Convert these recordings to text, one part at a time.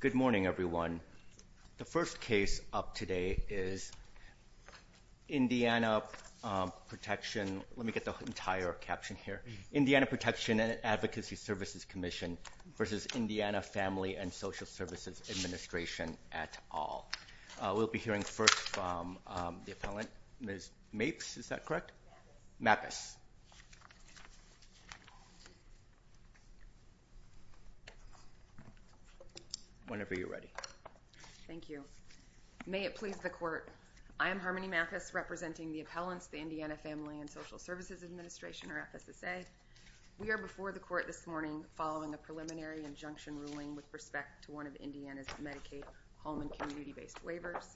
Good morning, everyone. The first case up today is Indiana Protection. Let me get the entire caption here. Indiana Protection and Advocacy Services Commission v. Indiana Family and Social Services Administration at all. We'll be hearing first from the appellant, Ms. Mapes, is that correct? Mapes. Whenever you're ready. Thank you. May it please the court. I am Harmony Mapes, representing the appellants, the Indiana Family and Social Services Administration, or FSSA. We are before the court this morning following a preliminary injunction ruling with respect to one of Indiana's Medicaid home and community-based waivers.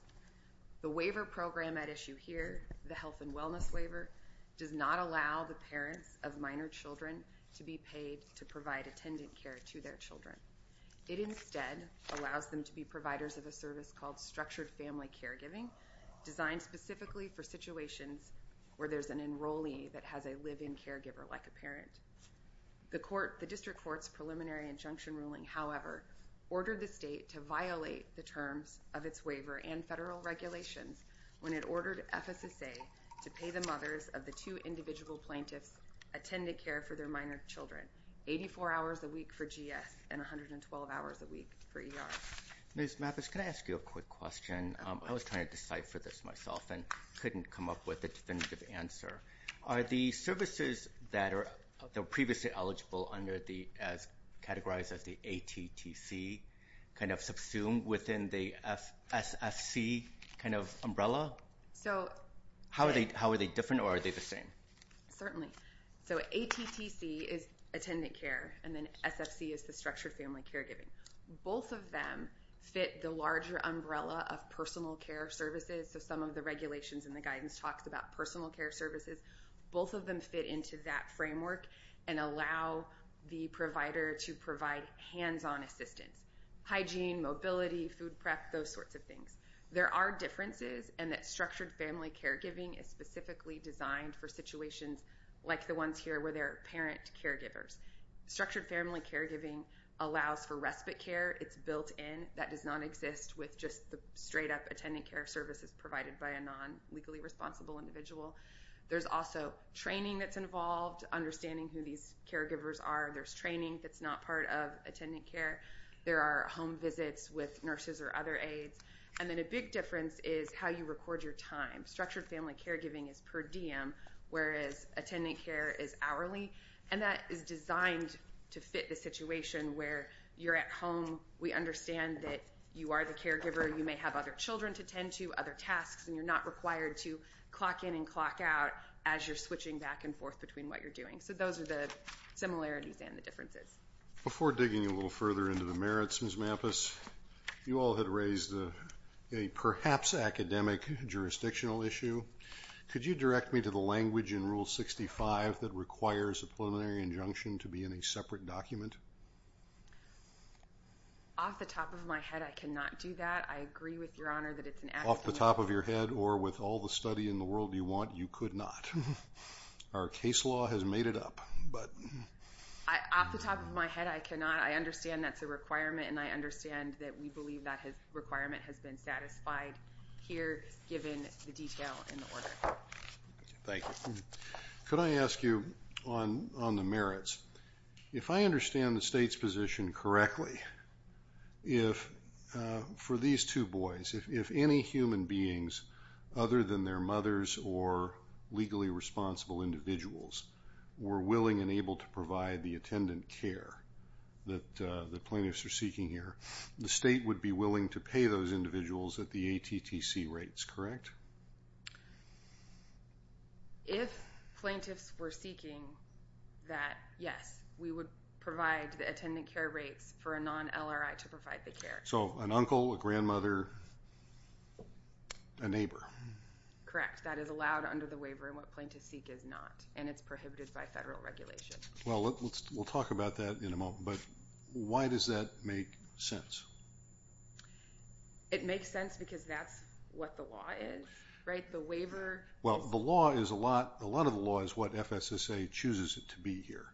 The waiver program at issue here, the Health and Wellness Waiver, does not allow the parents of minor children to be paid to provide attendant care to their children. It instead allows them to be providers of a service called Structured Family Caregiving, designed specifically for situations where there's an enrollee that has a live-in caregiver like a parent. The District Court's preliminary injunction ruling, however, ordered the state to violate the terms of its waiver and federal regulations when it ordered FSSA to pay the mothers of the two individual plaintiffs attendant care for their minor children, 84 hours a week for GS and 112 hours a week for ER. Ms. Mapes, can I ask you a quick question? I was trying to decipher this myself and couldn't come up with a definitive answer. Are the services that are previously eligible under the, as categorized as the ATTC, kind of subsumed within the SFC kind of umbrella? So... How are they different or are they the same? Certainly. So ATTC is attendant care and then SFC is the Structured Family Caregiving. Both of them fit the larger umbrella of personal care services, so some of the regulations and the guidance talks about personal care services. Both of them fit into that framework and allow the provider to provide hands-on assistance. Hygiene, mobility, food prep, those sorts of things. There are differences and that Structured Family Caregiving is specifically designed for situations like the ones here where there are parent caregivers. Structured Family Caregiving allows for respite care. It's built in. That does not exist with just the straight-up attendant care services provided by a non-legally responsible individual. There's also training that's involved, understanding who these caregivers are. There's training that's not part of attendant care. There are home visits with nurses or other aides. And then a big difference is how you record your time. Structured Family Caregiving is per diem, whereas attendant care is hourly. And that is designed to fit the situation where you're at home, we understand that you are the caregiver, you may have other children to tend to, other tasks, and you're not required to clock in and clock out as you're switching back and forth between what you're doing. So those are the similarities and the differences. Before digging a little further into the merits, Ms. Mampus, you all had raised a perhaps academic jurisdictional issue. Could you direct me to the language in Rule 65 that requires a preliminary injunction to be in a separate document? Off the top of my head, I cannot do that. I agree with Your Honor that it's an academic issue. Off the top of your head or with all the study in the world you want, you could not. Our case law has made it up. Off the top of my head, I cannot. I understand that's a requirement, and I understand that we believe that requirement has been satisfied here, given the detail in the order. Thank you. Could I ask you on the merits, if I understand the state's mothers or legally responsible individuals were willing and able to provide the attendant care that the plaintiffs are seeking here, the state would be willing to pay those individuals at the ATTC rates, correct? If plaintiffs were seeking that, yes, we would provide the attendant care for a non-LRI to provide the care. So an uncle, a grandmother, a neighbor. Correct. That is allowed under the waiver and what plaintiffs seek is not, and it's prohibited by federal regulation. Well, we'll talk about that in a moment, but why does that make sense? It makes sense because that's what the law is, right? The waiver. Well, the law is a lot, a lot of the law is what FSSA chooses it to be here,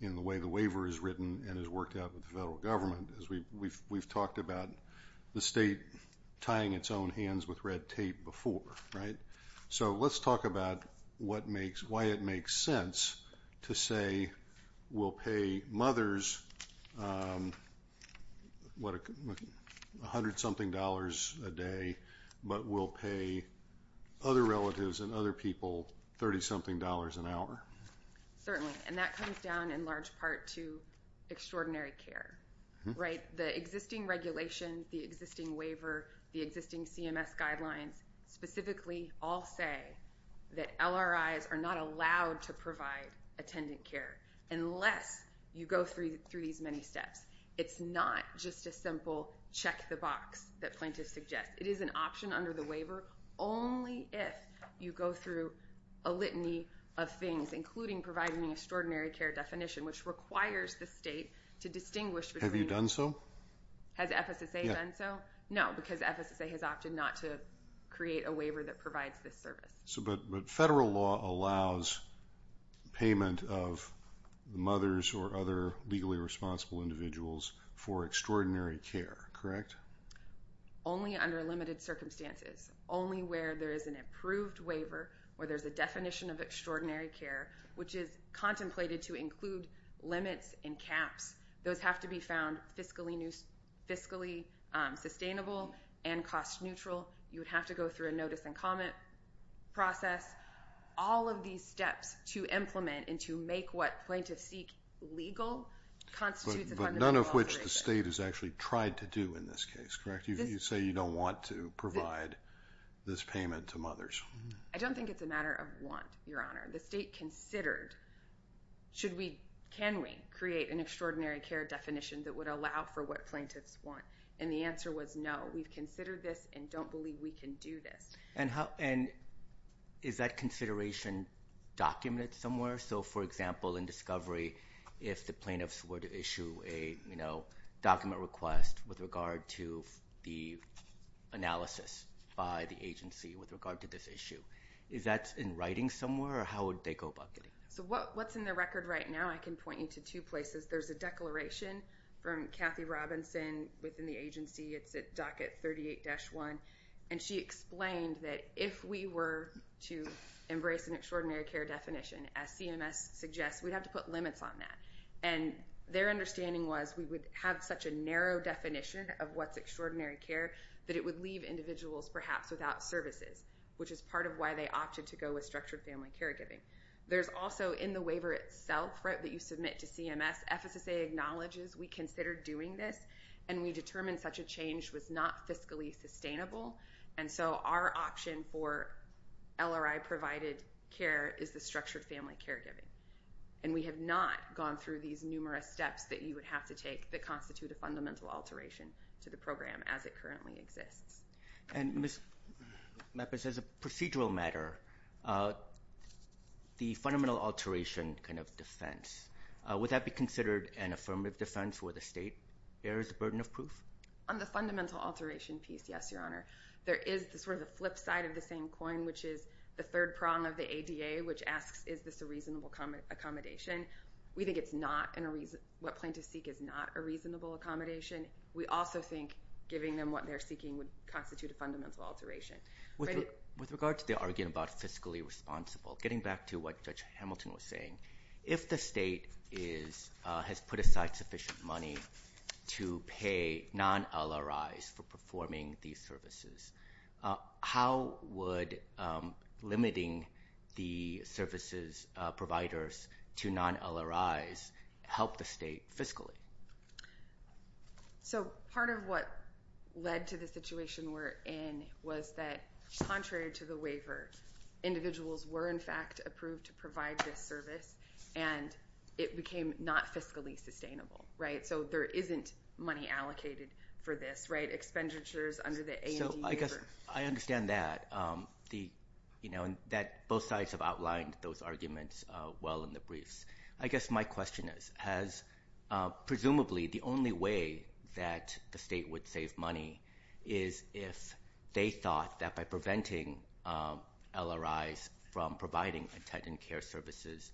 in the way the waiver is written and is worked out with the federal government, as we've talked about the state tying its own hands with red tape before, right? So let's talk about what makes, why it makes sense to say we'll pay mothers a hundred-something dollars a day, but we'll pay other relatives and other people 30-something dollars an hour. Certainly, and that comes down in large part to extraordinary care, right? The existing regulation, the existing waiver, the existing CMS guidelines, specifically all say that LRIs are not allowed to provide attendant care unless you go through these many steps. It's not just a simple check the box that plaintiffs suggest. It is an option under the waiver, only if you go through a litany of things, including providing the extraordinary care definition, which requires the state to distinguish between... Have you done so? Has FSSA done so? No, because FSSA has opted not to create a waiver that provides this service. So, but federal law allows payment of the mothers or other legally responsible individuals for extraordinary care, correct? Only under limited circumstances. Only where there is an approved waiver or there's a definition of extraordinary care, which is contemplated to include limits and caps. Those have to be found fiscally sustainable and cost neutral. You would have to go through a notice and comment process. All of these steps to implement and to make what plaintiffs seek legal constitutes a fundamental violation. But none of which the state has actually tried to do in this case, correct? You say you don't want to provide this payment to mothers. I don't think it's a matter of want, Your Honor. The state considered, should we, can we create an extraordinary care definition that would allow for what plaintiffs want? And the answer was no. We've considered this and don't believe we can do this. And how, and is that consideration documented somewhere? So, for example, in discovery, if the plaintiffs were to issue a, you know, document request with regard to the analysis by the agency with regard to this issue, is that in writing somewhere or how would they go about getting that? So what's in the record right now, I can point you to two places. There's a declaration from Kathy Robinson within the agency. It's at docket 38-1. And she explained that if we were to embrace an extraordinary care definition, as CMS suggests, we'd have to put limits on that. And their understanding was we would have such a narrow definition of what's extraordinary care that it would leave individuals, perhaps, without services, which is part of why they opted to go with structured family caregiving. There's also in the waiver itself, right, that you submit to CMS, FSSA acknowledges we considered doing this and we determined such a change was not fiscally sustainable. And so our option for LRI provided care is the structured family caregiving. And we have not gone through these numerous steps that you would have to take that constitute a fundamental alteration to the program as it currently exists. And Ms. Meppis, as a procedural matter, the fundamental alteration kind of defense, would that be considered an affirmative defense where the state bears the burden of proof? On the fundamental alteration piece, yes, Your Honor. There is sort of the flip side of the same coin, which is the third prong of the ADA, which asks is this a reasonable accommodation? We think it's not. What plaintiffs seek is not a reasonable accommodation. We also think giving them what they're seeking would constitute a fundamental alteration. With regard to the argument about fiscally responsible, getting back to what Judge Hamilton was saying, if the state has put aside sufficient money to pay non-LRIs for performing these services, how would limiting the services providers to non-LRIs help the state fiscally? So part of what led to the situation we're in was that, contrary to the waiver, individuals were in fact approved to provide this service, and it became not fiscally sustainable, right? So there isn't money allocated for this, right? Expenditures under the A&D waiver. So I guess I understand that. Both sides have outlined those arguments well in the briefs. I guess my question is, presumably the only way that the state would save money is if they thought that by preventing LRIs from providing intent and care services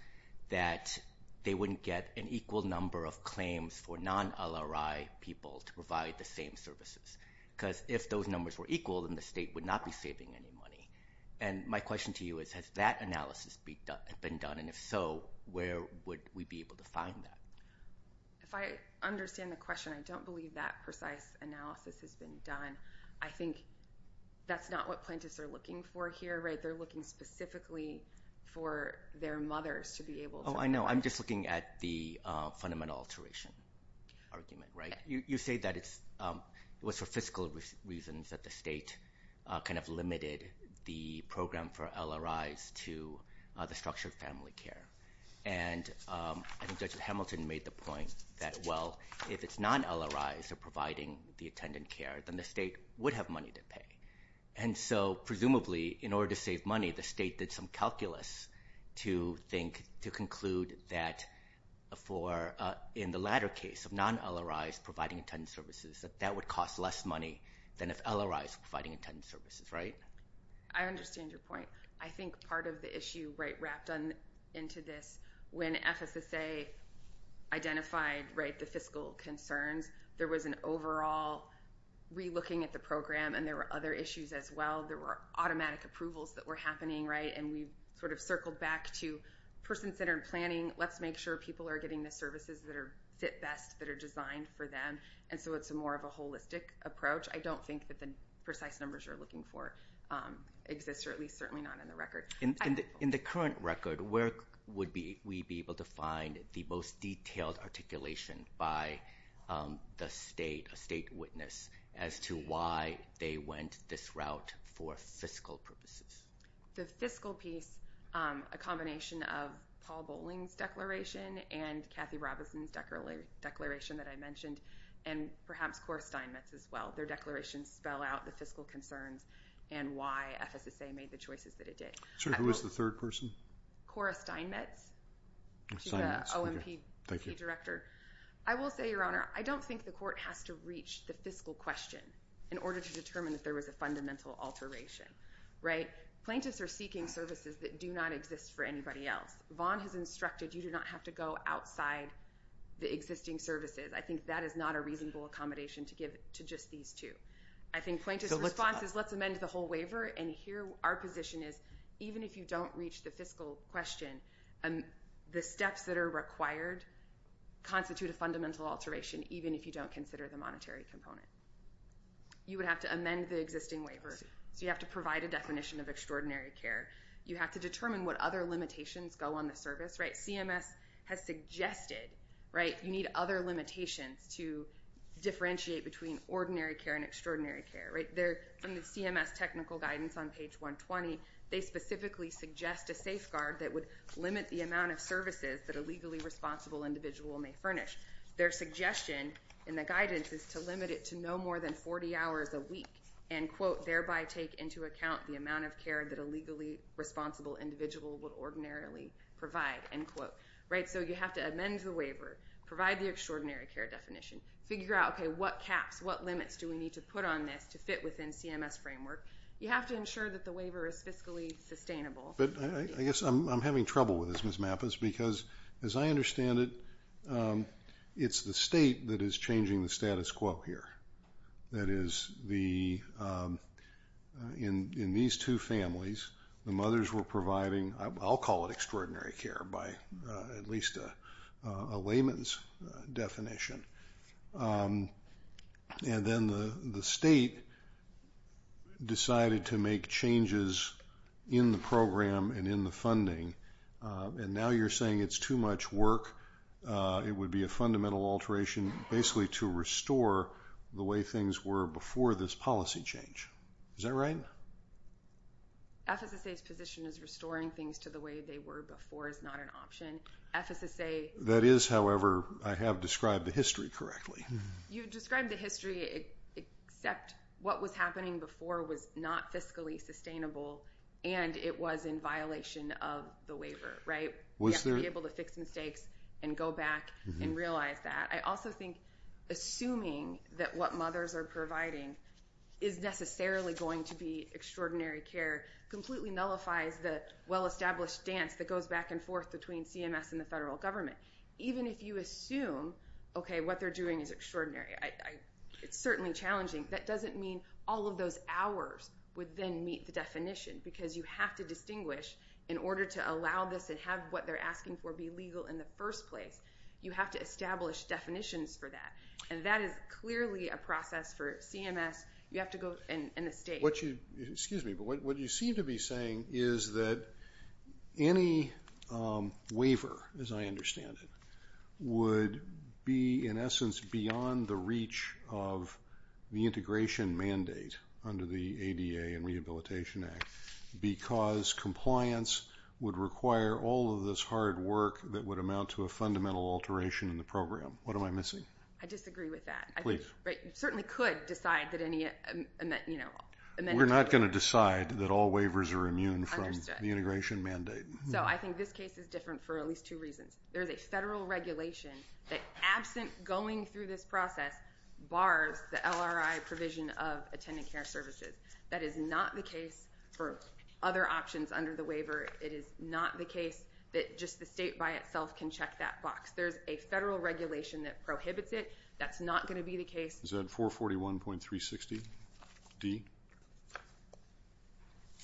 that they wouldn't get an equal number of claims for non-LRI people to provide the same services. Because if those numbers were equal, then the state would not be saving any money. And my question to you is, has that analysis been done? And if so, where would we be able to find that? If I understand the question, I don't believe that precise analysis has been done. I think that's not what plaintiffs are looking for here, right? They're looking specifically for their mothers to be able to provide. I'm just looking at the fundamental alteration argument, right? You say that it was for fiscal reasons that the state kind of limited the program for LRIs to the structured family care. And I think Judge Hamilton made the point that, well, if it's non-LRIs that are providing the intent and care, then the state would have money to pay. And so presumably, in order to save money, the state did some calculus to conclude that in the latter case of non-LRIs providing intent and services, that that would cost less money than if LRIs were providing intent and services, right? I understand your point. I think part of the issue wrapped into this, when FSSA identified the fiscal concerns, there was an overall re-looking at the program, and there were other issues as well. There were automatic approvals that were happening, right? And we sort of circled back to person-centered planning. Let's make sure people are getting the services that fit best, that are designed for them. And so it's more of a holistic approach. I don't think that the precise numbers you're looking for exist, or at least certainly not in the record. In the current record, where would we be able to find the most detailed articulation by the state, a state witness, as to why they went this route for fiscal purposes? The fiscal piece, a combination of Paul Boling's declaration and Kathy Robison's declaration that I mentioned, and perhaps Cora Steinmetz's as well. Their declarations spell out the fiscal concerns and why FSSA made the choices that it did. So who was the third person? Cora Steinmetz. She's the OMPP director. I will say, Your Honor, I don't think the court has to reach the fiscal question in order to determine that there was a fundamental alteration, right? Plaintiffs are seeking services that do not exist for anybody else. Vaughn has instructed you do not have to go outside the existing services. I think that is not a reasonable accommodation to give to just these two. I think Plaintiff's response is, let's amend the whole waiver. And here our position is, even if you don't reach the fiscal question, the steps that are required constitute a fundamental alteration, even if you don't consider the monetary component. You would have to amend the existing waiver. So you have to provide a definition of extraordinary care. You have to determine what other limitations go on the service, right? CMS has suggested, right, you need other limitations to differentiate between ordinary care and extraordinary care, right? From the CMS technical guidance on page 120, they specifically suggest a safeguard that would limit the amount of services that a legally responsible individual may furnish. Their suggestion in the guidance is to limit it to no more than 40 hours a week and, quote, So you have to amend the waiver, provide the extraordinary care definition, figure out, okay, what caps, what limits do we need to put on this to fit within CMS framework? You have to ensure that the waiver is fiscally sustainable. But I guess I'm having trouble with this, Ms. Mappas, because as I understand it, it's the state that is changing the status quo here. That is, in these two families, the mothers were providing, I'll call it extraordinary care by at least a layman's definition. And then the state decided to make changes in the program and in the funding. And now you're saying it's too much work. It would be a fundamental alteration basically to restore the way things were before this policy change. Is that right? FSSA's position is restoring things to the way they were before is not an option. FSSA That is, however, I have described the history correctly. You've described the history except what was happening before was not fiscally sustainable and it was in violation of the waiver, right? Was there You have to be able to fix mistakes and go back and realize that. I also think assuming that what mothers are providing is necessarily going to be extraordinary care completely nullifies the well-established dance that goes back and forth between CMS and the federal government. Even if you assume, okay, what they're doing is extraordinary, it's certainly challenging. That doesn't mean all of those hours would then meet the definition because you have to distinguish in order to allow this and have what they're asking for be legal in the first place. You have to establish definitions for that. And that is clearly a process for CMS. You have to go in the state. Excuse me, but what you seem to be saying is that any waiver, as I understand it, would be in essence beyond the reach of the integration mandate under the ADA and Rehabilitation Act because compliance would require all of this hard work that would amount to a fundamental alteration in the program. What am I missing? I disagree with that. Please. You certainly could decide that any amended waiver We're not going to decide that all waivers are immune from the integration mandate. So I think this case is different for at least two reasons. There is a federal regulation that absent going through this process bars the LRI provision of attending care services. That is not the case for other options under the waiver. It is not the case that just the state by itself can check that box. There's a federal regulation that prohibits it. That's not going to be the case. Is that 441.360D?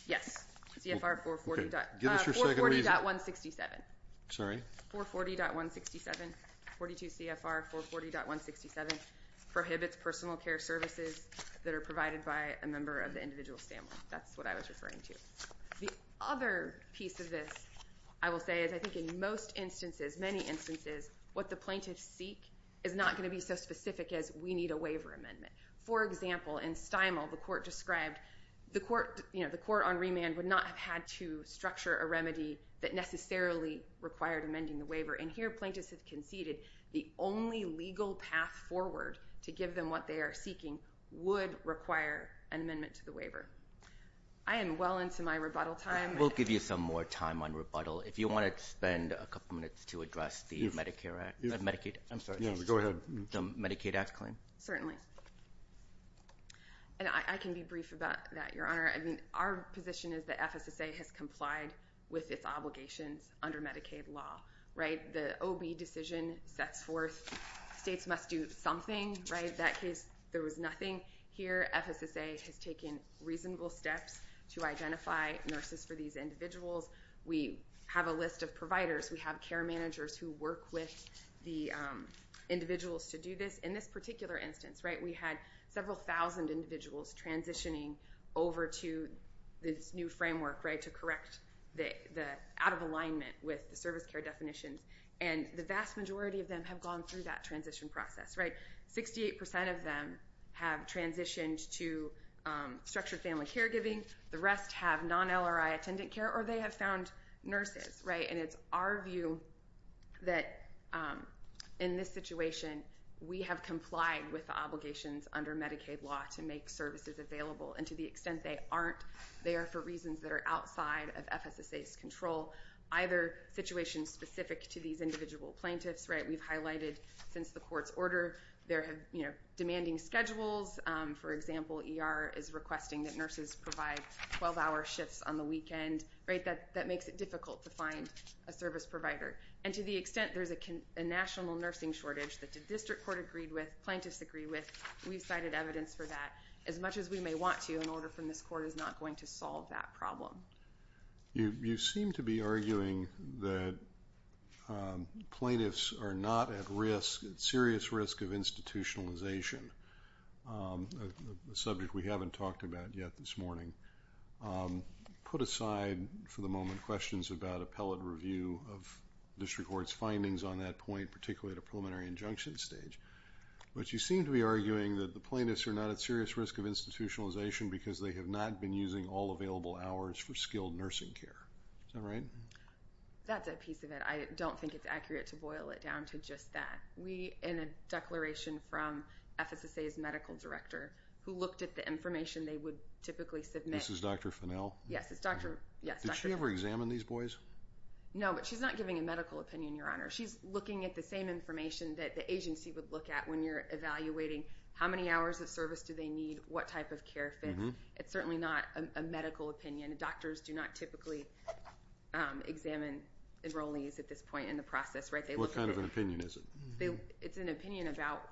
Yes. Give us your second reason. 440.167. That's what I was referring to. The other piece of this, I will say, is I think in most instances, many instances, what the plaintiffs seek is not going to be so specific as we need a waiver amendment. For example, in Stimel, the court on remand would not have had to structure a remedy that necessarily required amending the waiver. And here, plaintiffs have conceded the only legal path forward to give them what they are seeking would require an amendment to the waiver. I am well into my rebuttal time. We'll give you some more time on rebuttal. If you want to spend a couple minutes to address the Medicaid Act claim. Certainly. I can be brief about that, Your Honor. Our position is that FSSA has complied with its obligations under Medicaid law. The OB decision sets forth states must do something. In that case, there was nothing. Here, FSSA has taken reasonable steps to identify nurses for these individuals. We have a list of providers. We have care managers who work with the individuals to do this. In this particular instance, we had several thousand individuals transitioning over to this new framework to correct the out-of-alignment with the service care definitions. And the vast majority of them have gone through that transition process. 68% of them have transitioned to structured family caregiving. The rest have non-LRI attendant care, or they have found nurses. And it's our view that in this situation, we have complied with the obligations under Medicaid law to make services available. And to the extent they aren't, they are for reasons that are outside of FSSA's control, either situations specific to these individual plaintiffs. We've highlighted since the court's order, there have been demanding schedules. For example, ER is requesting that nurses provide 12-hour shifts on the weekend. That makes it difficult to find a service provider. And to the extent there's a national nursing shortage that the district court agreed with, plaintiffs agreed with, we've cited evidence for that. As much as we may want to, an order from this court is not going to solve that problem. You seem to be arguing that plaintiffs are not at risk, at serious risk of institutionalization, a subject we haven't talked about yet this morning. Put aside, for the moment, questions about appellate review of district court's findings on that point, particularly at a preliminary injunction stage. But you seem to be arguing that the plaintiffs are not at serious risk of institutionalization because they have not been using all available hours for skilled nursing care. Is that right? That's a piece of it. I don't think it's accurate to boil it down to just that. We, in a declaration from FSSA's medical director, who looked at the information they would typically submit. This is Dr. Fennell? Yes, it's Dr. Fennell. Did she ever examine these boys? No, but she's not giving a medical opinion, Your Honor. She's looking at the same information that the agency would look at when you're evaluating how many hours of service do they need, what type of care fits. It's certainly not a medical opinion. Doctors do not typically examine enrollees at this point in the process. What kind of an opinion is it? It's an opinion about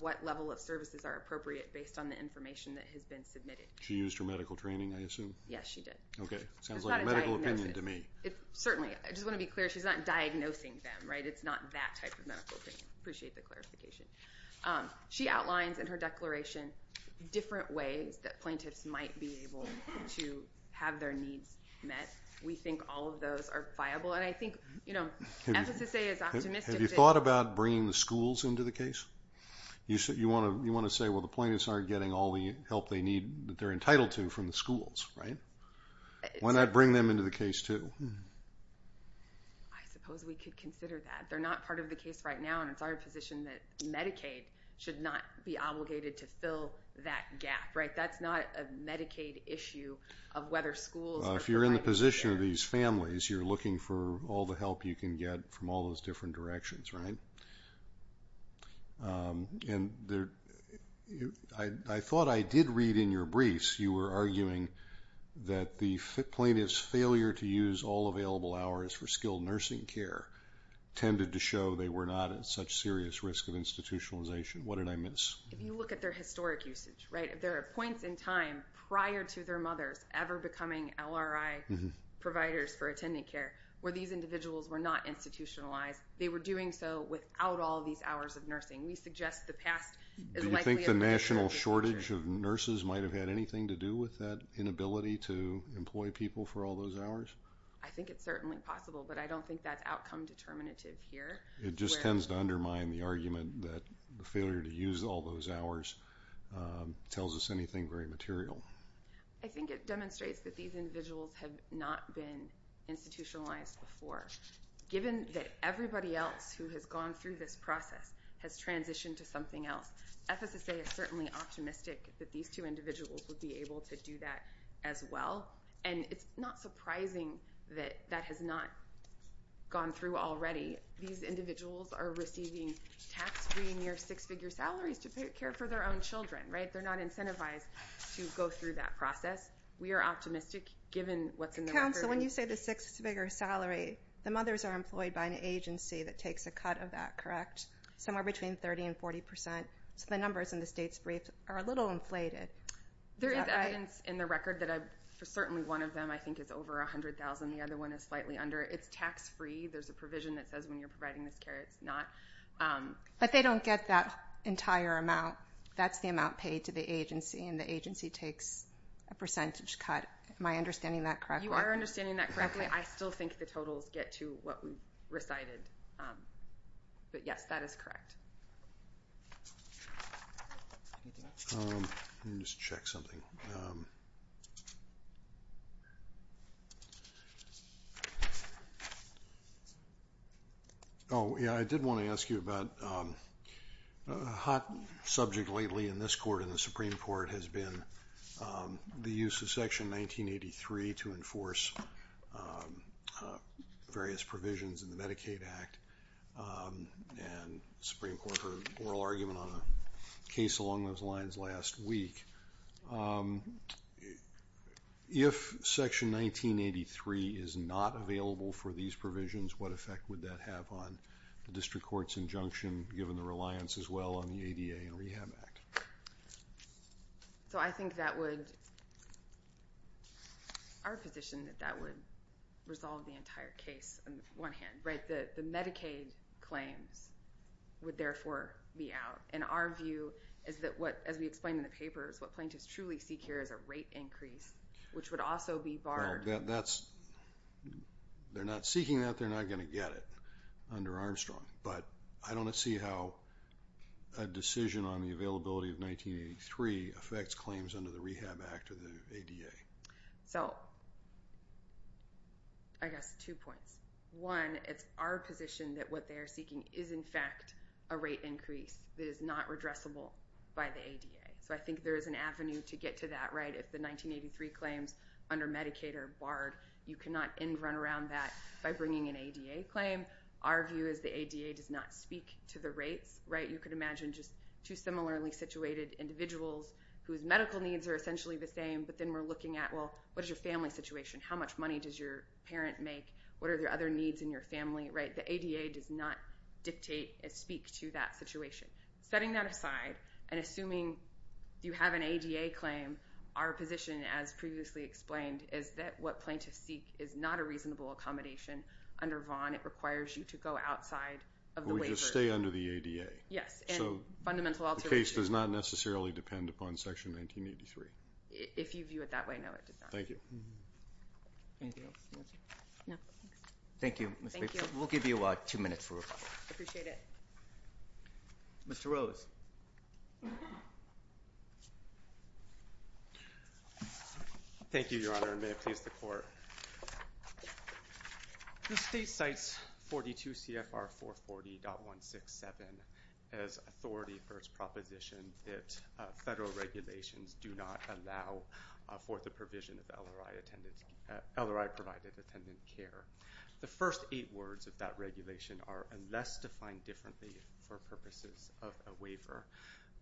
what level of services are appropriate based on the information that has been submitted. She used her medical training, I assume? Yes, she did. Okay, sounds like a medical opinion to me. Certainly. I just want to be clear, she's not diagnosing them. It's not that type of medical opinion. Appreciate the clarification. She outlines in her declaration different ways that plaintiffs might be able to have their needs met. We think all of those are viable. Have you thought about bringing the schools into the case? You want to say, well, the plaintiffs aren't getting all the help they need that they're entitled to from the schools, right? Why not bring them into the case, too? I suppose we could consider that. They're not part of the case right now, and it's our position that Medicaid should not be obligated to fill that gap, right? That's not a Medicaid issue of whether schools are provided. In the position of these families, you're looking for all the help you can get from all those different directions, right? I thought I did read in your briefs you were arguing that the plaintiff's failure to use all available hours for skilled nursing care tended to show they were not at such serious risk of institutionalization. What did I miss? If you look at their historic usage, right, there are points in time prior to their mothers ever becoming LRI providers for attendant care where these individuals were not institutionalized. They were doing so without all these hours of nursing. We suggest the past is likely a better picture. Do you think the national shortage of nurses might have had anything to do with that inability to employ people for all those hours? I think it's certainly possible, but I don't think that's outcome determinative here. It just tends to undermine the argument that the failure to use all those hours tells us anything very material. I think it demonstrates that these individuals have not been institutionalized before. Given that everybody else who has gone through this process has transitioned to something else, FSSA is certainly optimistic that these two individuals would be able to do that as well, and it's not surprising that that has not gone through already. These individuals are receiving tax-free near six-figure salaries to care for their own children, right? They're not incentivized to go through that process. We are optimistic given what's in the record. Counsel, when you say the six-figure salary, the mothers are employed by an agency that takes a cut of that, correct? Somewhere between 30% and 40%. So the numbers in the state's briefs are a little inflated. There is evidence in the record that certainly one of them I think is over $100,000. The other one is slightly under. It's tax-free. There's a provision that says when you're providing this care, it's not. But they don't get that entire amount. That's the amount paid to the agency, and the agency takes a percentage cut. Am I understanding that correctly? You are understanding that correctly. I still think the totals get to what we recited. But, yes, that is correct. Let me just check something. Oh, yeah, I did want to ask you about a hot subject lately in this court, in the Supreme Court, has been the use of Section 1983 to enforce various provisions in the Medicaid Act. And the Supreme Court heard an oral argument on a case along those lines last week. If Section 1983 is not available for these provisions, what effect would that have on the district court's injunction, given the reliance as well on the ADA and Rehab Act? So I think that would, our position, that that would resolve the entire case on the one hand. The Medicaid claims would, therefore, be out. And our view is that, as we explained in the papers, what plaintiffs truly seek here is a rate increase, which would also be barred. They're not seeking that. They're not going to get it under Armstrong. But I don't see how a decision on the availability of 1983 affects claims under the Rehab Act or the ADA. So I guess two points. One, it's our position that what they're seeking is, in fact, a rate increase that is not redressable by the ADA. So I think there is an avenue to get to that. If the 1983 claims under Medicaid are barred, you cannot run around that by bringing an ADA claim. Our view is the ADA does not speak to the rates. You could imagine just two similarly situated individuals whose medical needs are essentially the same, but then we're looking at, well, what is your family situation? How much money does your parent make? What are the other needs in your family? The ADA does not dictate and speak to that situation. Setting that aside and assuming you have an ADA claim, our position, as previously explained, is that what plaintiffs seek is not a reasonable accommodation under Vaughan. It requires you to go outside of the waiver. We just stay under the ADA. Yes, and fundamental alternative. The case does not necessarily depend upon Section 1983. If you view it that way, no, it does not. Thank you. Anything else? No. Thank you. Thank you. We'll give you two minutes for rebuttal. Appreciate it. Mr. Rose. Thank you, Your Honor, and may it please the Court. The State cites 42 CFR 440.167 as authority for its proposition that federal regulations do not allow for the provision of LRI-provided attendant care. The first eight words of that regulation are, unless defined differently for purposes of a waiver,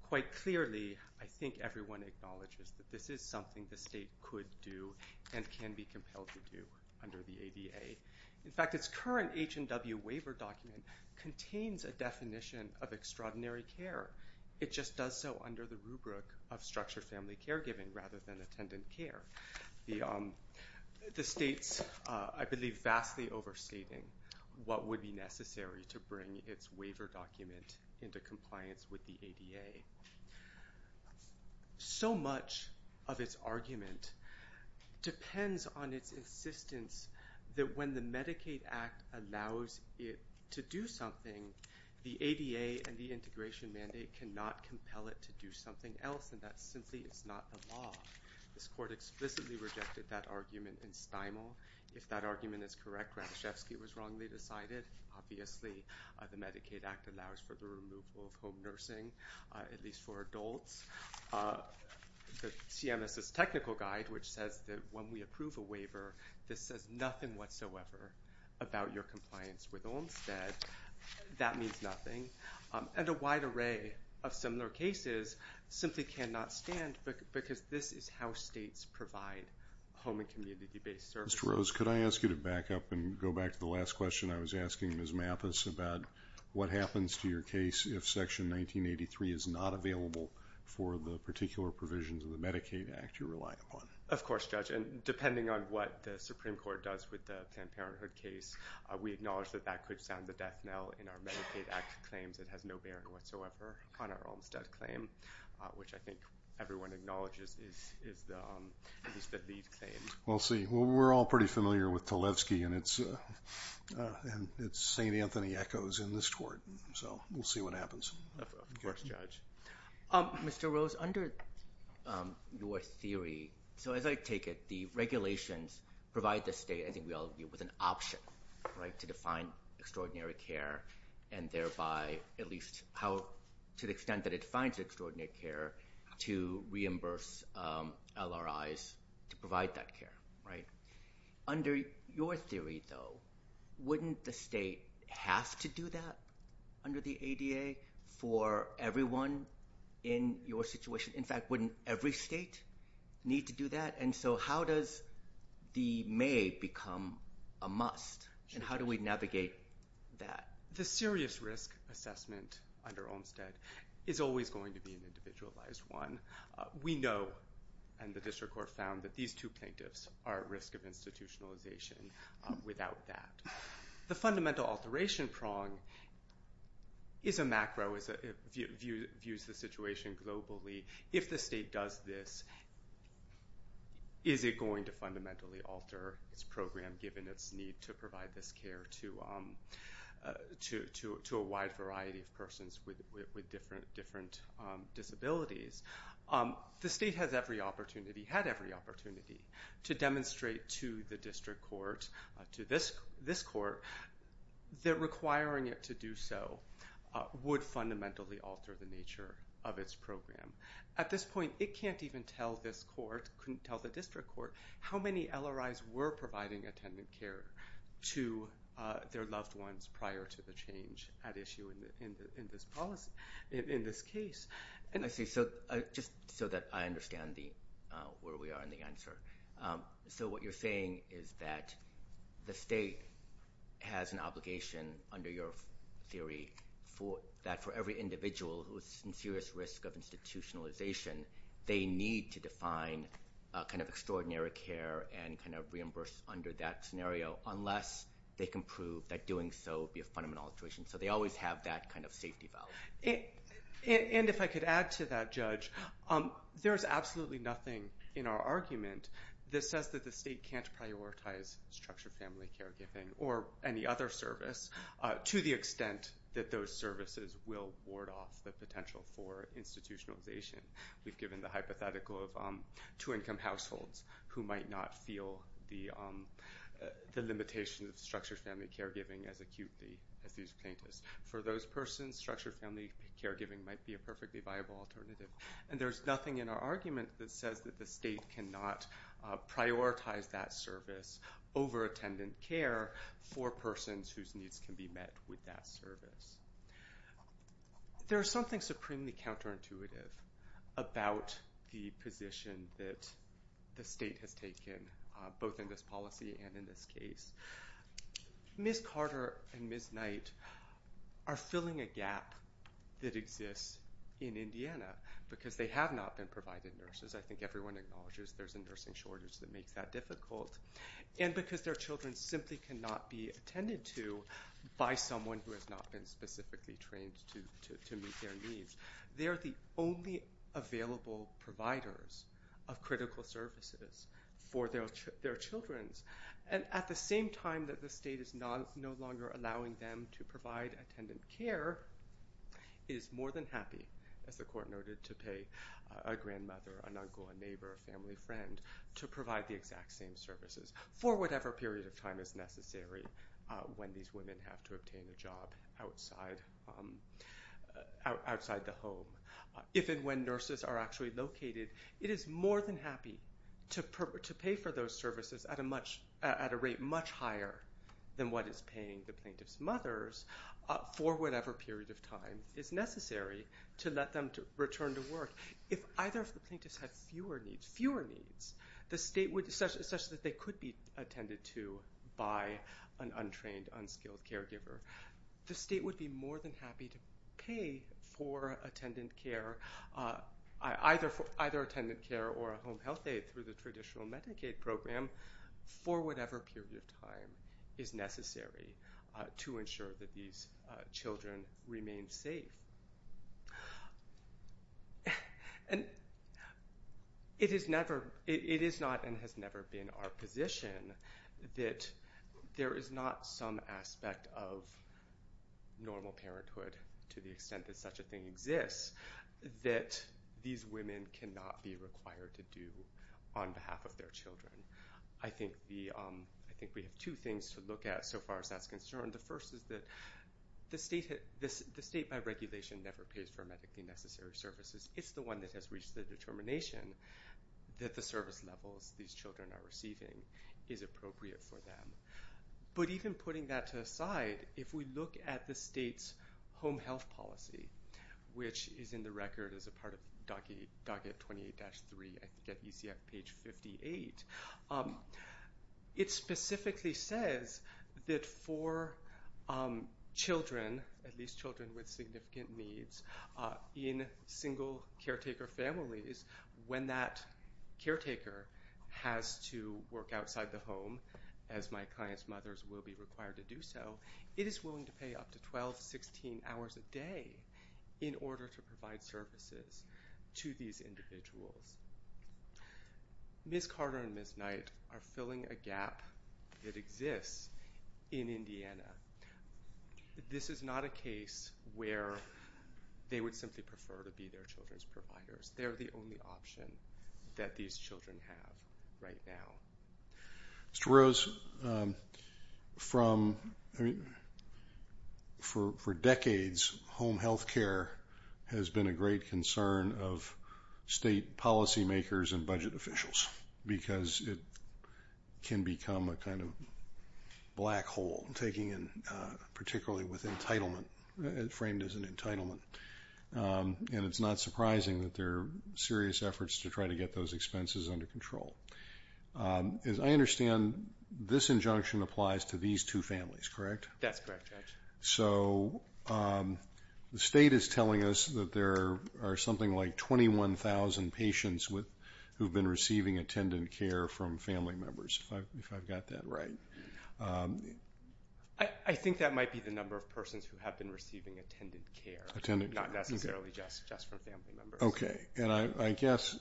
quite clearly I think everyone acknowledges that this is something the State could do and can be compelled to do under the ADA. In fact, its current H&W waiver document contains a definition of extraordinary care. It just does so under the rubric of structured family caregiving rather than attendant care. The State's, I believe, vastly overstating what would be necessary to bring its waiver document into compliance with the ADA. So much of its argument depends on its insistence that when the Medicaid Act allows it to do something, the ADA and the integration mandate cannot compel it to do something else, and that simply is not the law. This Court explicitly rejected that argument in Stimel. If that argument is correct, Radishevsky was wrongly decided. Obviously, the Medicaid Act allows for the removal of home nursing. At least for adults. The CMS's technical guide, which says that when we approve a waiver, this says nothing whatsoever about your compliance with Olmstead. That means nothing. And a wide array of similar cases simply cannot stand because this is how states provide home and community-based services. Mr. Rose, could I ask you to back up and go back to the last question I was asking Ms. Mathis about what happens to your case if Section 1983 is not available for the particular provisions of the Medicaid Act you rely upon? Of course, Judge. And depending on what the Supreme Court does with the Planned Parenthood case, we acknowledge that that could sound the death knell in our Medicaid Act claims. It has no bearing whatsoever on our Olmstead claim, which I think everyone acknowledges is at least the lead claim. We'll see. Well, we're all pretty familiar with Tlaibsky, and it's St. Anthony Echoes in this court. So we'll see what happens. Of course, Judge. Mr. Rose, under your theory, so as I take it, the regulations provide the state, I think we all agree, with an option to define extraordinary care, and thereby at least to the extent that it defines extraordinary care, to reimburse LRIs to provide that care, right? Under your theory, though, wouldn't the state have to do that under the ADA for everyone in your situation? In fact, wouldn't every state need to do that? And so how does the may become a must, and how do we navigate that? The serious risk assessment under Olmstead is always going to be an individualized one. We know, and the district court found, that these two plaintiffs are at risk of institutionalization without that. The fundamental alteration prong is a macro, views the situation globally. If the state does this, is it going to fundamentally alter its program, given its need to provide this care to a wide variety of persons with different disabilities? The state has every opportunity, had every opportunity, to demonstrate to the district court, to this court, that requiring it to do so would fundamentally alter the nature of its program. At this point, it can't even tell this court, couldn't tell the district court, how many LRIs were providing attendant care to their loved ones prior to the change at issue in this policy, in this case. I see. So just so that I understand where we are in the answer. So what you're saying is that the state has an obligation, under your theory, that for every individual who is in serious risk of institutionalization, they need to define extraordinary care and reimburse under that scenario, unless they can prove that doing so would be a fundamental alteration. So they always have that safety valve. And if I could add to that, Judge, there is absolutely nothing in our argument that says that the state can't prioritize structured family caregiving or any other service to the extent that those services will ward off the potential for institutionalization. We've given the hypothetical of two-income households who might not feel the limitations of structured family caregiving as acutely as these plaintiffs. For those persons, structured family caregiving might be a perfectly viable alternative. And there's nothing in our argument that says that the state cannot prioritize that service over attendant care for persons whose needs can be met with that service. There is something supremely counterintuitive about the position that the state has taken, both in this policy and in this case. Ms. Carter and Ms. Knight are filling a gap that exists in Indiana because they have not been provided nurses. I think everyone acknowledges there's a nursing shortage that makes that difficult. And because their children simply cannot be attended to by someone who has not been specifically trained to meet their needs. They're the only available providers of critical services for their children. And at the same time that the state is no longer allowing them to provide attendant care, it is more than happy, as the court noted, to pay a grandmother, an uncle, a neighbor, a family friend to provide the exact same services for whatever period of time is necessary when these women have to obtain a job outside the home. If and when nurses are actually located, it is more than happy to pay for those services at a rate much higher than what is paying the plaintiff's mothers for whatever period of time is necessary to let them return to work. If either of the plaintiffs had fewer needs, such that they could be attended to by an untrained, unskilled caregiver, the state would be more than happy to pay for either attendant care or a home health aide through the traditional Medicaid program for whatever period of time is necessary to ensure that these children remain safe. And it is not and has never been our position that there is not some aspect of normal parenthood to the extent that such a thing exists that these women cannot be required to do on behalf of their children. I think we have two things to look at so far as that's concerned. The first is that the state by regulation never pays for medically necessary services. It's the one that has reached the determination that the service levels these children are receiving is appropriate for them. But even putting that to the side, if we look at the state's home health policy, which is in the record as a part of docket 28-3 at UCF page 58, it specifically says that for children, at least children with significant needs, in single caretaker families, when that caretaker has to work outside the home, as my client's mothers will be required to do so, it is willing to pay up to 12, 16 hours a day in order to provide services to these individuals. Ms. Carter and Ms. Knight are filling a gap that exists in Indiana. This is not a case where they would simply prefer to be their children's providers. They're the only option that these children have right now. Mr. Rose, for decades, home health care has been a great concern of state policymakers and budget officials because it can become a kind of black hole, particularly with entitlement, framed as an entitlement. And it's not surprising that there are serious efforts to try to get those expenses under control. As I understand, this injunction applies to these two families, correct? That's correct, Judge. So the state is telling us that there are something like 21,000 patients who have been receiving attendant care from family members, if I've got that right. I think that might be the number of persons who have been receiving attendant care, not necessarily just from family members. Okay. And I guess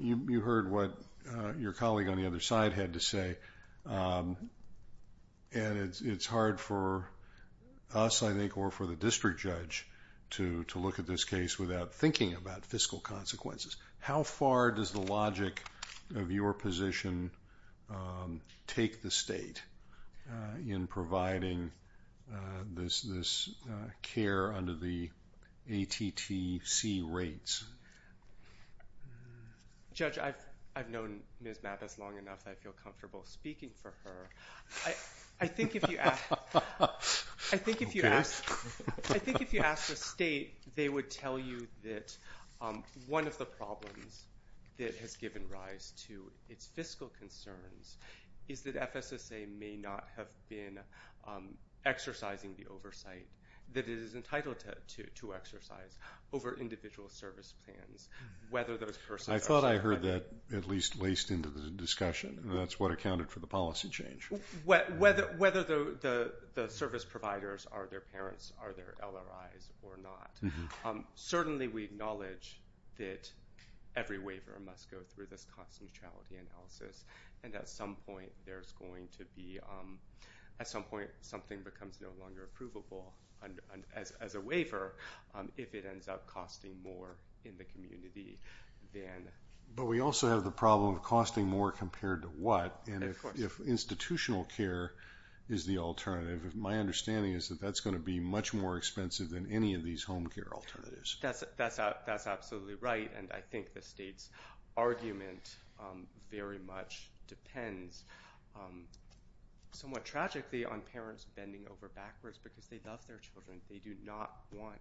you heard what your colleague on the other side had to say, and it's hard for us, I think, or for the district judge, to look at this case without thinking about fiscal consequences. How far does the logic of your position take the state in providing this care under the ATTC rates? Judge, I've known Ms. Mappas long enough that I feel comfortable speaking for her. I think if you ask the state, they would tell you that one of the problems that has given rise to its fiscal concerns is that FSSA may not have been exercising the oversight that it is entitled to exercise over individual service plans, whether those persons are- I thought I heard that at least laced into the discussion, and that's what accounted for the policy change. Whether the service providers are their parents, are their LRIs or not, certainly we acknowledge that every waiver must go through this cost neutrality analysis, and at some point there's going to be- at some point something becomes no longer approvable as a waiver if it ends up costing more in the community than- But we also have the problem of costing more compared to what? And if institutional care is the alternative, my understanding is that that's going to be much more expensive than any of these home care alternatives. That's absolutely right, and I think the state's argument very much depends somewhat tragically on parents bending over backwards because they love their children. They do not want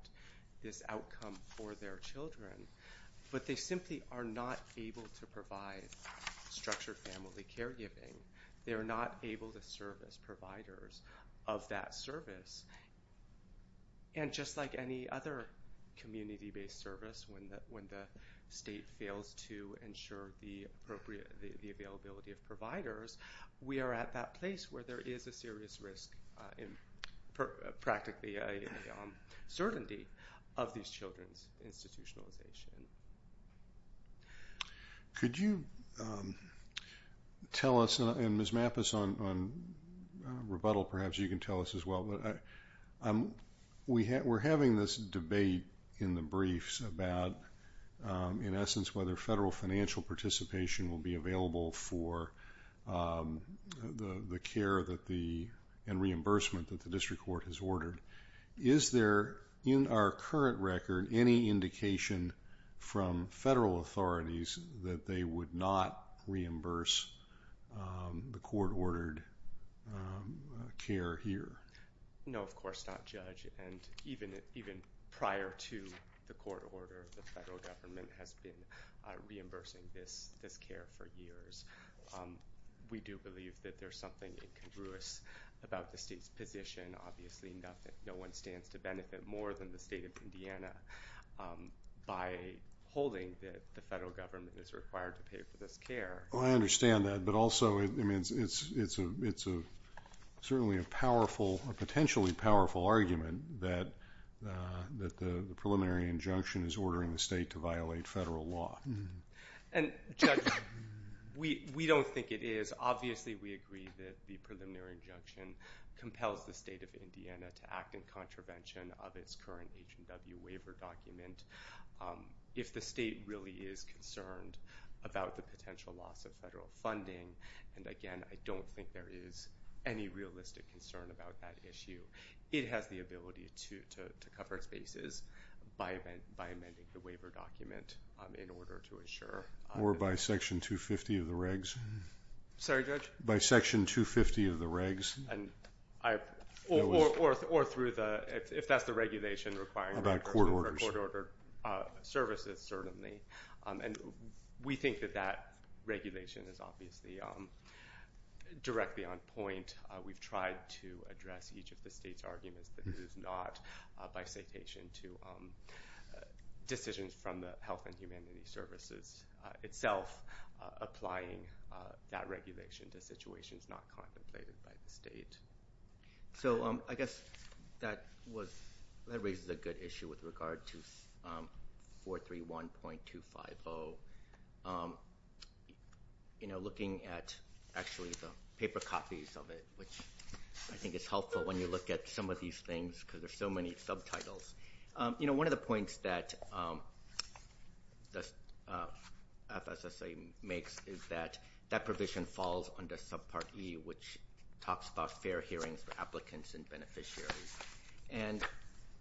this outcome for their children, but they simply are not able to provide structured family caregiving. They are not able to service providers of that service, and just like any other community-based service, when the state fails to ensure the availability of providers, we are at that place where there is a serious risk, practically a certainty of these children's institutionalization. Could you tell us, and Ms. Mappas on rebuttal perhaps you can tell us as well, we're having this debate in the briefs about, in essence, whether federal financial participation will be available for the care that the- reimbursement that the district court has ordered. Is there, in our current record, any indication from federal authorities that they would not reimburse the court-ordered care here? No, of course not, Judge, and even prior to the court order, the federal government has been reimbursing this care for years. We do believe that there's something incongruous about the state's position. Obviously, no one stands to benefit more than the state of Indiana by holding that the federal government is required to pay for this care. I understand that, but also it's certainly a powerful, a potentially powerful argument that the preliminary injunction is ordering the state to violate federal law. And, Judge, we don't think it is. Obviously, we agree that the preliminary injunction compels the state of Indiana to act in contravention of its current H&W waiver document. If the state really is concerned about the potential loss of federal funding, and again, I don't think there is any realistic concern about that issue, it has the ability to cover its bases by amending the waiver document in order to ensure. Or by Section 250 of the regs. Sorry, Judge? By Section 250 of the regs. Or through the, if that's the regulation requiring records or court-ordered services, certainly. And we think that that regulation is obviously directly on point. We've tried to address each of the state's arguments that it is not, by citation to decisions from the Health and Humanity Services itself, applying that regulation to situations not contemplated by the state. So I guess that raises a good issue with regard to 431.250. You know, looking at actually the paper copies of it, which I think is helpful when you look at some of these things because there's so many subtitles. You know, one of the points that the FSSA makes is that that provision falls under subpart E, which talks about fair hearings for applicants and beneficiaries. And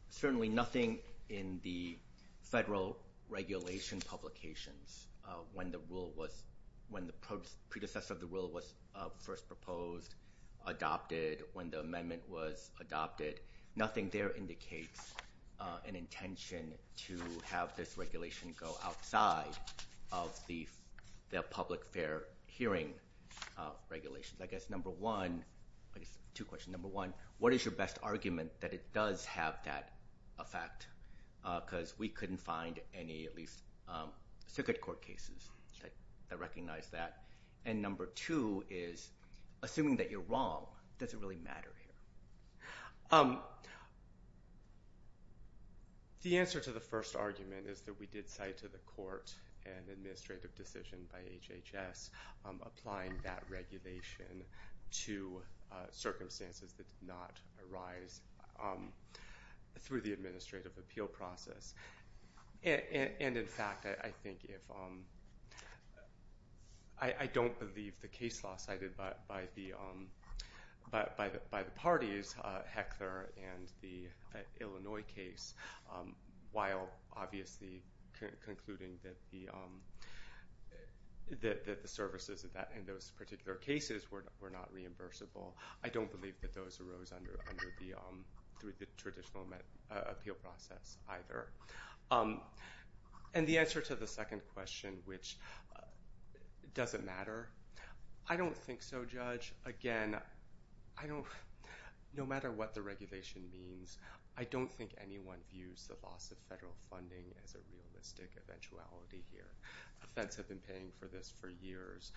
certainly nothing in the federal regulation publications when the predecessor of the rule was first proposed, adopted, when the amendment was adopted. Nothing there indicates an intention to have this regulation go outside of the public fair hearing regulations. I guess number one, I guess two questions. Number one, what is your best argument that it does have that effect? Because we couldn't find any, at least circuit court cases that recognize that. And number two is, assuming that you're wrong, does it really matter here? The answer to the first argument is that we did cite to the court an administrative decision by HHS applying that regulation to circumstances that did not arise through the administrative appeal process. And in fact, I don't believe the case law cited by the parties, Heckler and the Illinois case, while obviously concluding that the services in those particular cases were not reimbursable, I don't believe that those arose under the traditional appeal process either. And the answer to the second question, which does it matter, I don't think so, Judge. Again, no matter what the regulation means, I don't think anyone views the loss of federal funding as a realistic eventuality here. The feds have been paying for this for years.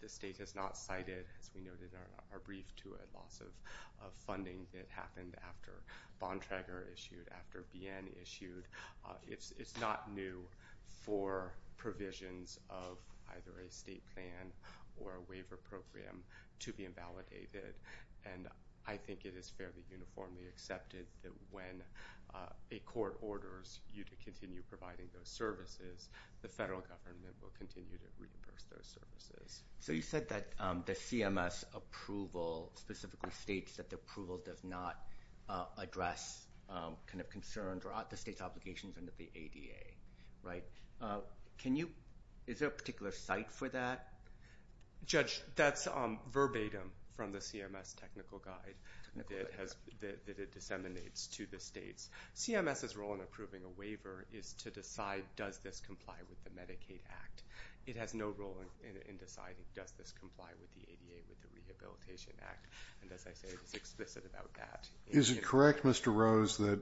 The state has not cited, as we noted in our brief, to a loss of funding that happened after Bontrager issued, after BN issued. It's not new for provisions of either a state plan or a waiver program to be invalidated. And I think it is fairly uniformly accepted that when a court orders you to continue providing those services, the federal government will continue to reimburse those services. So you said that the CMS approval specifically states that the approval does not address kind of concerns or the state's obligations under the ADA, right? Is there a particular site for that? Judge, that's verbatim from the CMS technical guide that it disseminates to the states. CMS's role in approving a waiver is to decide, does this comply with the Medicaid Act? It has no role in deciding, does this comply with the ADA, with the Rehabilitation Act? And as I say, it's explicit about that. Is it correct, Mr. Rose, that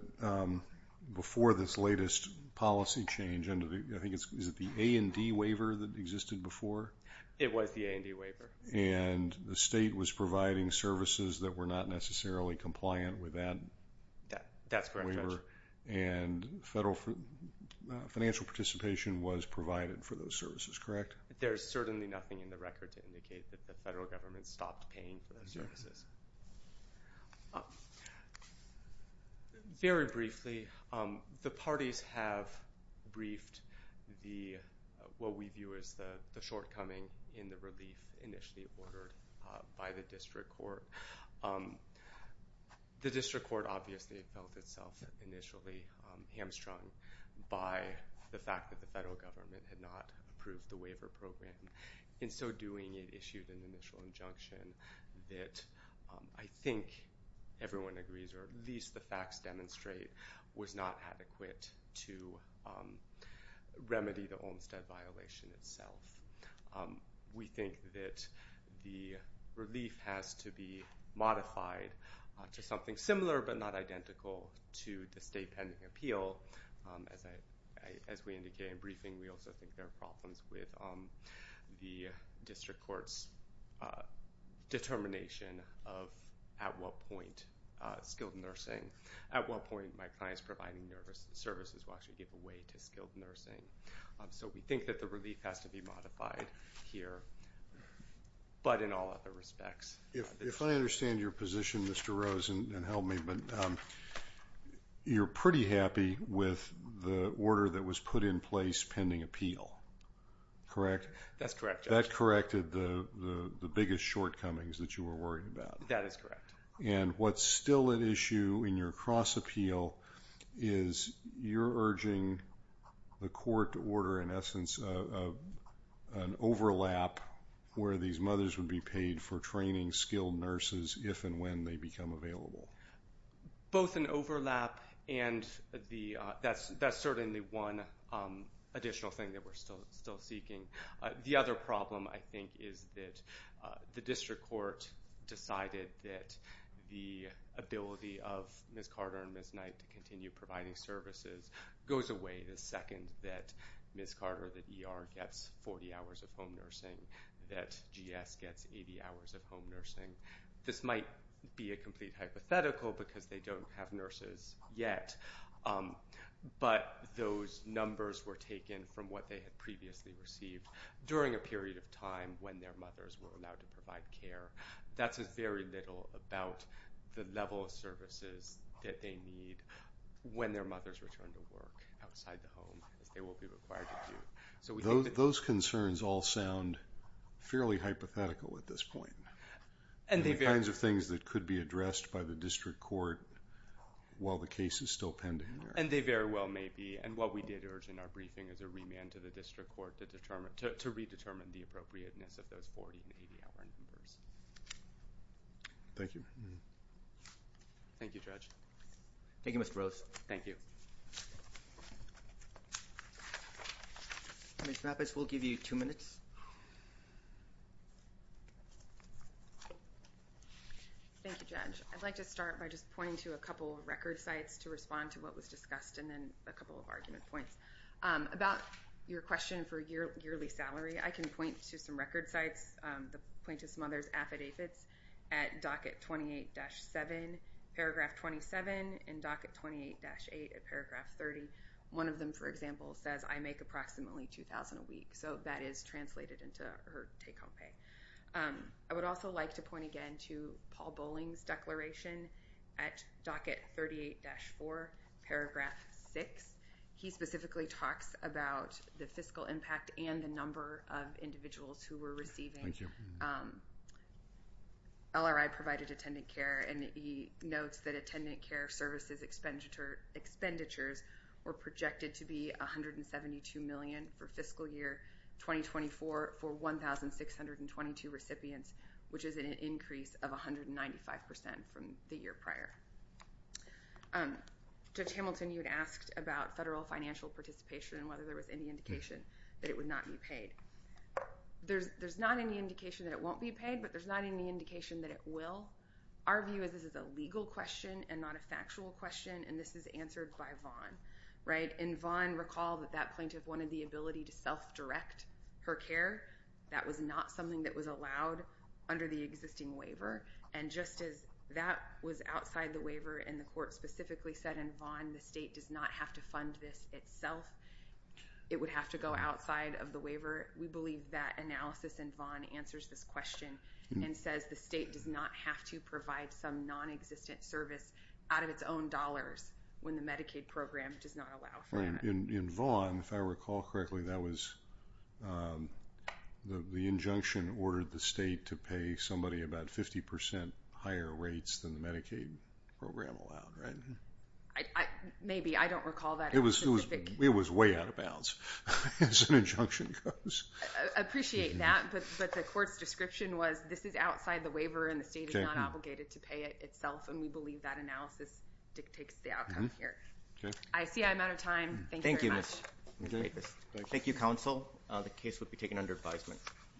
before this latest policy change, I think it's the A&D waiver that existed before? It was the A&D waiver. And the state was providing services that were not necessarily compliant with that? That's correct, Judge. And federal financial participation was provided for those services, correct? There's certainly nothing in the record to indicate that the federal government stopped paying for those services. Very briefly, the parties have briefed what we view as the shortcoming in the relief initially ordered by the district court. The district court obviously felt itself initially hamstrung by the fact that the federal government had not approved the waiver program. In so doing, it issued an initial injunction that I think everyone agrees, or at least the facts demonstrate, was not adequate to remedy the Olmstead violation itself. We think that the relief has to be modified to something similar but not identical to the state pending appeal. As we indicated in briefing, we also think there are problems with the district court's determination of at what point skilled nursing, at what point my client's providing services will actually give away to skilled nursing. So we think that the relief has to be modified here, but in all other respects. If I understand your position, Mr. Rose, and help me, but you're pretty happy with the order that was put in place pending appeal, correct? That's correct, Judge. That corrected the biggest shortcomings that you were worried about. That is correct. And what's still at issue in your cross-appeal is you're urging the court to order, in essence, an overlap where these mothers would be paid for training skilled nurses if and when they become available. Both an overlap and that's certainly one additional thing that we're still seeking. The other problem, I think, is that the district court decided that the ability of Ms. Carter and Ms. Knight to continue providing services goes away the second that Ms. Carter, the ER, gets 40 hours of home nursing, that GS gets 80 hours of home nursing. This might be a complete hypothetical because they don't have nurses yet, but those numbers were taken from what they had previously received during a period of time when their mothers were allowed to provide care. That says very little about the level of services that they need when their mothers return to work outside the home, as they will be required to do. Those concerns all sound fairly hypothetical at this point. The kinds of things that could be addressed by the district court while the case is still pending. And they very well may be, and what we did urge in our briefing is a remand to the district court to redetermine the appropriateness of those 40 and 80-hour numbers. Thank you. Thank you, Judge. Thank you, Mr. Rose. Thank you. Ms. Mappas, we'll give you two minutes. Thank you, Judge. I'd like to start by just pointing to a couple of record sites to respond to what was discussed and then a couple of argument points. About your question for yearly salary, I can point to some record sites. The plaintiff's mother's affidavits at Docket 28-7, Paragraph 27, and Docket 28-8 at Paragraph 30. One of them, for example, says, I make approximately $2,000 a week. So that is translated into her take-home pay. I would also like to point again to Paul Bowling's declaration at Docket 38-4, Paragraph 6. He specifically talks about the fiscal impact and the number of individuals who were receiving LRI-provided attendant care, and he notes that attendant care services expenditures were projected to be $172 million for fiscal year 2024 for 1,622 recipients, which is an increase of 195% from the year prior. Judge Hamilton, you had asked about federal financial participation and whether there was any indication that it would not be paid. There's not any indication that it won't be paid, but there's not any indication that it will. Our view is this is a legal question and not a factual question, and this is answered by Vaughan. Right? And Vaughan recalled that that plaintiff wanted the ability to self-direct her care. That was not something that was allowed under the existing waiver, and just as that was outside the waiver and the court specifically said in Vaughan the state does not have to fund this itself, it would have to go outside of the waiver. We believe that analysis in Vaughan answers this question and says the state does not have to provide some nonexistent service out of its own dollars when the Medicaid program does not allow for that. Right. In Vaughan, if I recall correctly, that was the injunction ordered the state to pay somebody about 50% higher rates than the Medicaid program allowed, right? Maybe. I don't recall that. It was way out of bounds as an injunction goes. I appreciate that, but the court's description was this is outside the waiver and the state is not obligated to pay it itself, and we believe that analysis dictates the outcome here. Okay. I see I'm out of time. Thank you very much. Thank you, Ms. Davis. Thank you, counsel. The case would be taken under advisement.